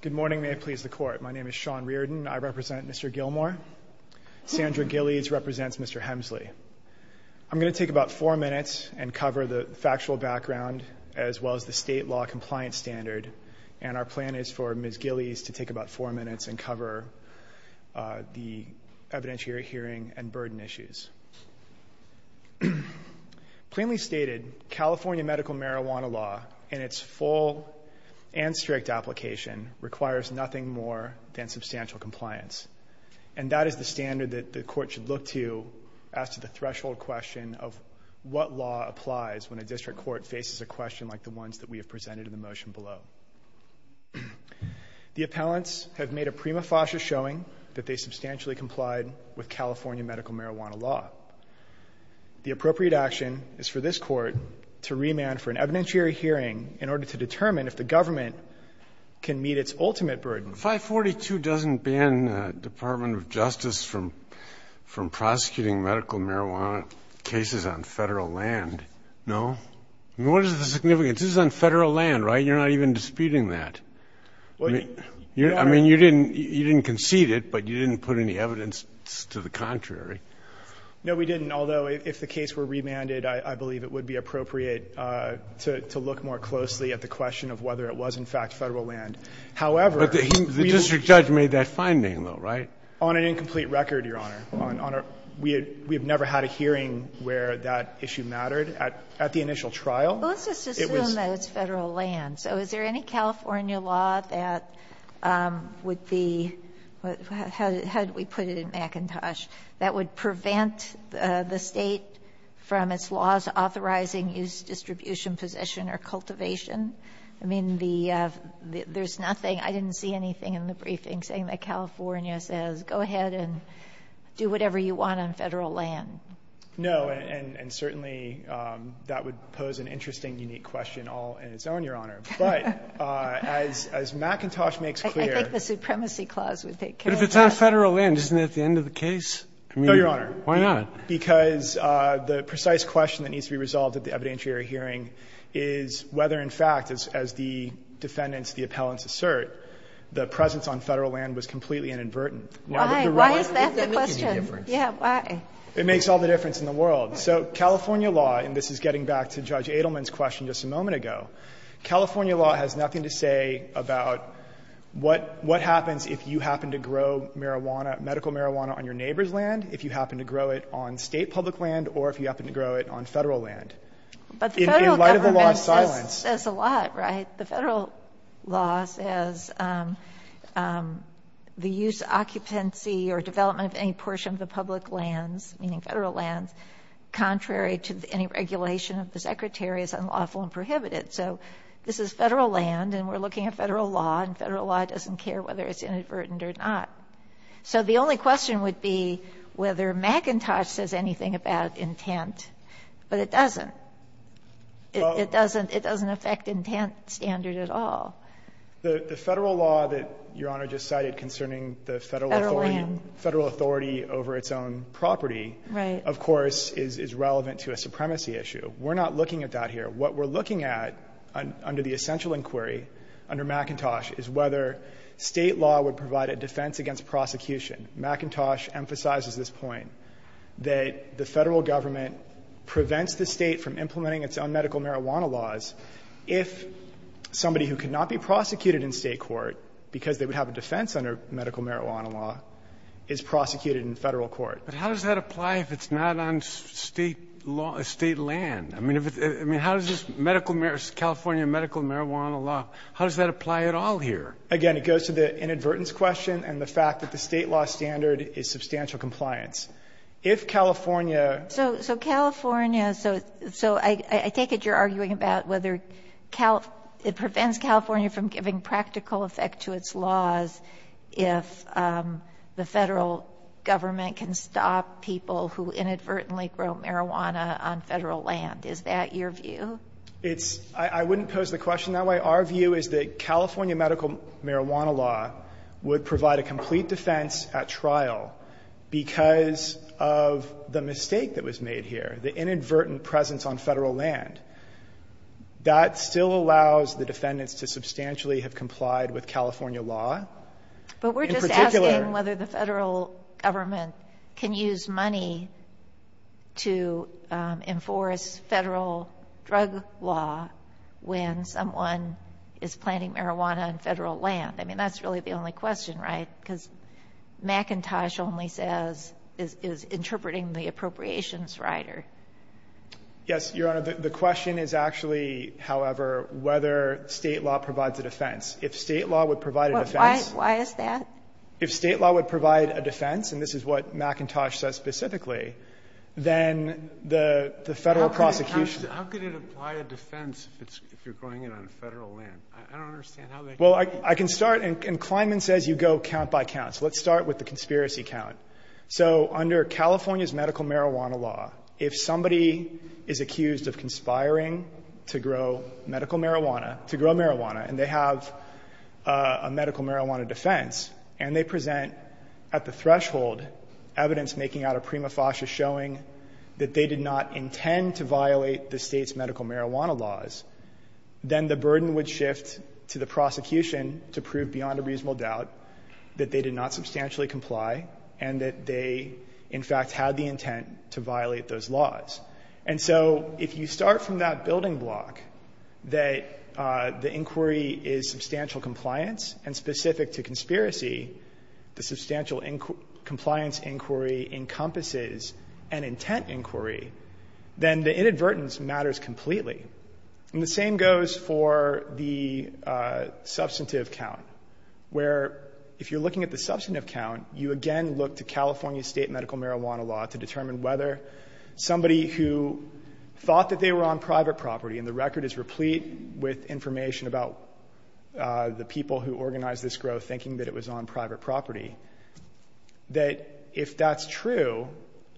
Good morning, may it please the court. My name is Sean Reardon. I represent Mr. Gilmore. Sandra Gillies represents Mr. Hemsley. I'm going to take about four minutes and cover the factual background as well as the state law compliance standard and our plan is for Ms. Gillies to take about four minutes and cover the evidentiary hearing and burden issues. Plainly stated, California medical marijuana law in its full and strict application requires nothing more than substantial compliance and that is the standard that the court should look to as to the threshold question of what law applies when a district court faces a question like the ones that we have presented in the motion below. The appellants have made a prima facie showing that they substantially complied with California medical marijuana law The appropriate action is for this court to remand for an evidentiary hearing in order to determine if the government can meet its ultimate burden. Breyer. 542 doesn't ban the Department of Justice from prosecuting medical marijuana cases on Federal land, no? What is the significance? This is on Federal land, right? You're not even disputing that. I mean, you didn't concede it, but you didn't put any evidence to the contrary. No, we didn't. Although, if the case were remanded, I believe it would be appropriate to look more closely at the question of whether it was, in fact, Federal land. However, we The district judge made that finding, though, right? On an incomplete record, Your Honor. We have never had a hearing where that issue mattered at the initial trial. Let's just assume that it's Federal land. So is there any California law that would be the How did we put it in McIntosh? That would prevent the State from its laws authorizing use, distribution, possession, or cultivation? I mean, the There's nothing. I didn't see anything in the briefing saying that California says, go ahead and do whatever you want on Federal land. No. And certainly, that would pose an interesting, unique question all in its own, Your Honor. But as McIntosh makes clear I think the Supremacy Clause would take care of that. But if it's on Federal land, isn't that the end of the case? No, Your Honor. Why not? Because the precise question that needs to be resolved at the evidentiary hearing is whether, in fact, as the defendants, the appellants assert, the presence on Federal land was completely inadvertent. Why? Why is that the question? It doesn't make any difference. Yeah, why? It makes all the difference in the world. So California law, and this is getting back to Judge Adelman's question just a moment ago, California law has nothing to say about what happens if you happen to grow marijuana, medical marijuana, on your neighbor's land, if you happen to grow it on State public land, or if you happen to grow it on Federal land. In light of the law's silence But the Federal government says a lot, right? The Federal law says the use, occupancy, or development of any portion of the public lands, meaning Federal lands, contrary to any regulation of the Secretary, is unlawful and prohibited. So this is Federal land, and we're looking at Federal law, and Federal law doesn't care whether it's inadvertent or not. So the only question would be whether McIntosh says anything about intent, but it doesn't. It doesn't affect intent standard at all. The Federal law that Your Honor just cited concerning the Federal authority over its own property, of course, is relevant to a supremacy issue. We're not looking at that here. What we're looking at under the essential inquiry under McIntosh is whether State law would provide a defense against prosecution. McIntosh emphasizes this point, that the Federal government prevents the State from implementing its own medical marijuana laws if somebody who could not be prosecuted in State court because they would have a defense under medical marijuana law is prosecuted in Federal court. But how does that apply if it's not on State law or State land? I mean, if it's – I mean, how does this medical – California medical marijuana law, how does that apply at all here? Again, it goes to the inadvertence question and the fact that the State law standard is substantial compliance. If California – So California – so I take it you're arguing about whether it prevents California from giving practical effect to its laws if the Federal government can stop people who inadvertently grow marijuana on Federal land. Is that your view? It's – I wouldn't pose the question that way. Our view is that California medical marijuana law would provide a complete defense at trial because of the mistake that was made here, the inadvertent presence on Federal land. That still allows the defendants to substantially have complied with California law. But we're just asking whether the Federal government can use money to enforce Federal drug law when someone is planting marijuana on Federal land. I mean, that's really the only question, right? Because McIntosh only says – is interpreting the appropriations rider. Yes, Your Honor. The question is actually, however, whether State law provides a defense. If State law would provide a defense – Why is that? If State law would provide a defense, and this is what McIntosh says specifically, then the Federal process – How can it apply a defense if you're growing it on Federal land? I don't understand how that – Well, I can start, and Kleinman says you go count by count. So let's start with the conspiracy count. So under California's medical marijuana law, if somebody is accused of conspiring to grow medical marijuana, to grow marijuana, and they have a medical marijuana defense, and they present at the threshold evidence making out of prima facie showing that they did not intend to violate the State's medical marijuana laws, then the burden would shift to the prosecution to prove beyond a reasonable doubt that they did not substantially comply and that they, in fact, had the intent to violate those laws. And so if you start from that building block, that the inquiry is substantial compliance, and specific to conspiracy, the substantial compliance inquiry encompasses an intent inquiry, then the inadvertence matters completely. And the same goes for the substantive count, where if you're looking at the substantive count, you again look to California's State medical marijuana law to determine whether somebody who thought that they were on private property, and the record is replete with information about the people who organized this growth thinking that it was on private property, that if that's true,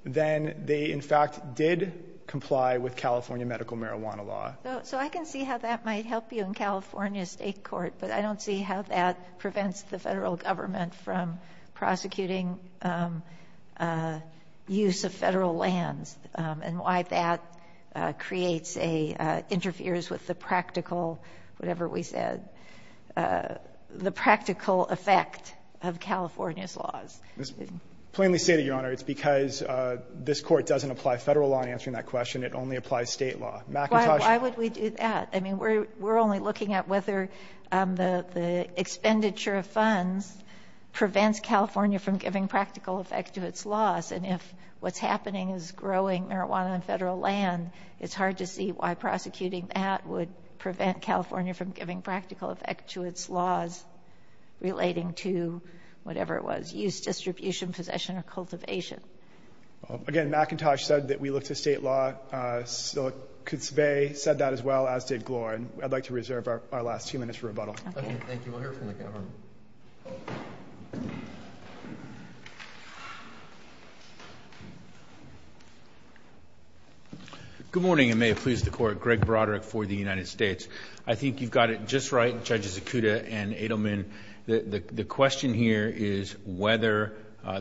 then they, in fact, did comply with California medical marijuana law. So I can see how that might help you in California State court, but I don't see how that prevents the Federal government from prosecuting use of Federal lands and why that creates a, interferes with the practical, whatever we said, the practical effect of California's laws. Fisherman. Plainly stated, Your Honor, it's because this Court doesn't apply Federal law in answering that question. It only applies State law. McIntosh. Why would we do that? I mean, we're only looking at whether the expenditure of funds prevents California from giving practical effect to its laws, and if what's happening is growing marijuana on Federal land, it's hard to see why prosecuting that would prevent California from giving practical effect to its laws relating to whatever it was, use, distribution, possession, or cultivation. Again, McIntosh said that we look to State law. So Kutzvei said that as well, as did Glorin. I'd like to reserve our last few minutes for rebuttal. Okay. Thank you. We'll hear from the government. Good morning, and may it please the Court. Greg Broderick for the United States. I think you've got it just right, Judges Akuta and Adelman. The question here is whether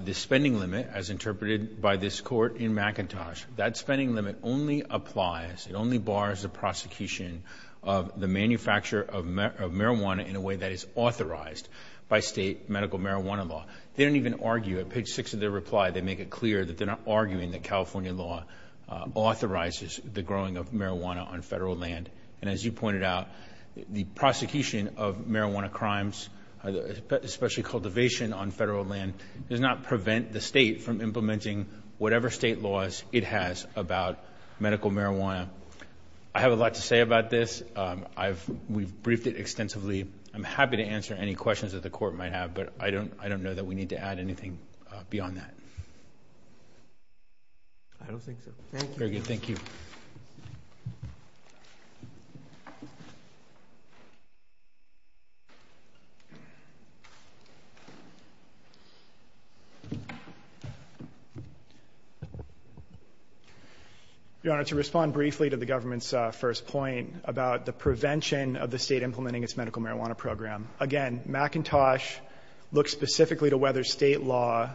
the spending limit, as interpreted by this Court in McIntosh, that spending limit only applies, it only bars the prosecution of the manufacture of marijuana in a way that is authorized by State medical marijuana law. They don't even argue. At page six of their reply, they make it clear that they're not arguing that California law authorizes the growing of marijuana on Federal land. And as you pointed out, the prosecution of marijuana crimes, especially cultivation on Federal land, does not prevent the State from implementing whatever State laws it has about medical marijuana. I have a lot to say about this. We've briefed it extensively. I'm happy to answer any questions that the Court might have, but I don't know that we need to add anything beyond that. I don't think so. Thank you. Thank you. Your Honor, to respond briefly to the government's first point about the prevention of the State implementing its medical marijuana program, again, McIntosh looks specifically to whether State law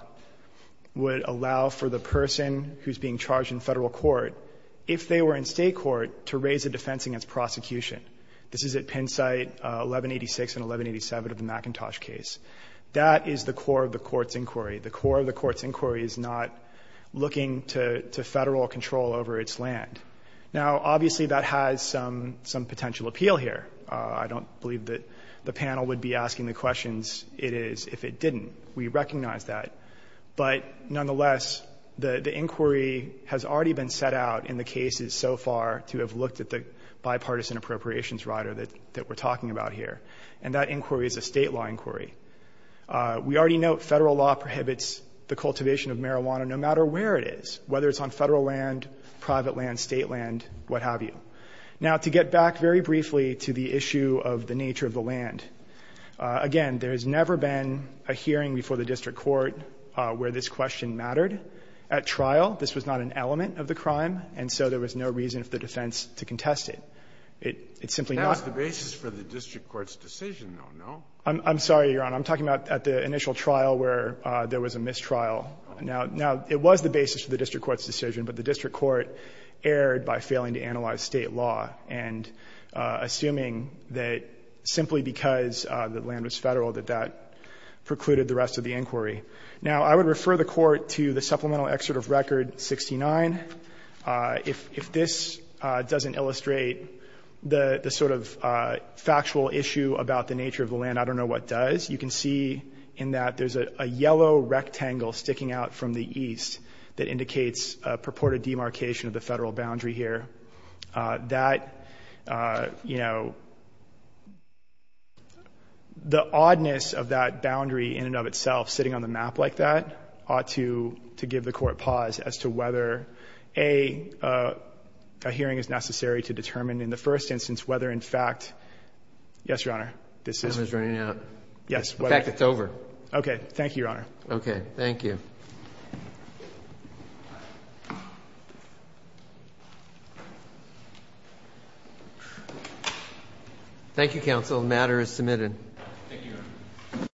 would allow for the person who's being charged in Federal court, if they were in State court, to raise a defense against prosecution This is at Penn site 1186 and 1187 of the McIntosh case. That is the core of the Court's inquiry. The core of the Court's inquiry is not looking to Federal control over its land. Now, obviously, that has some potential appeal here. I don't believe that the panel would be asking the questions it is if it didn't. We recognize that. But nonetheless, the inquiry has already been set out in the cases so far to have a bipartisan appropriations rider that we're talking about here. And that inquiry is a State law inquiry. We already note Federal law prohibits the cultivation of marijuana no matter where it is, whether it's on Federal land, private land, State land, what have you. Now, to get back very briefly to the issue of the nature of the land, again, there has never been a hearing before the District Court where this question mattered. At trial, this was not an element of the crime, and so there was no reason for the defense to contest it. It's simply not the basis for the District Court's decision, though, no? I'm sorry, Your Honor. I'm talking about at the initial trial where there was a mistrial. Now, it was the basis for the District Court's decision, but the District Court erred by failing to analyze State law and assuming that simply because the land was Federal that that precluded the rest of the inquiry. Now, I would refer the Court to the supplemental excerpt of Record 69. If this doesn't illustrate the sort of factual issue about the nature of the land, I don't know what does. You can see in that there's a yellow rectangle sticking out from the east that indicates a purported demarcation of the Federal boundary here. That, you know, the oddness of that boundary in and of itself sitting on the map like that ought to give the Court pause as to whether, A, a hearing is necessary to determine in the first instance whether, in fact, yes, Your Honor, this is. I'm just running out. Yes. In fact, it's over. Okay. Thank you, Your Honor. Okay. Thank you. Thank you, counsel. The matter is submitted. Thank you, Your Honor.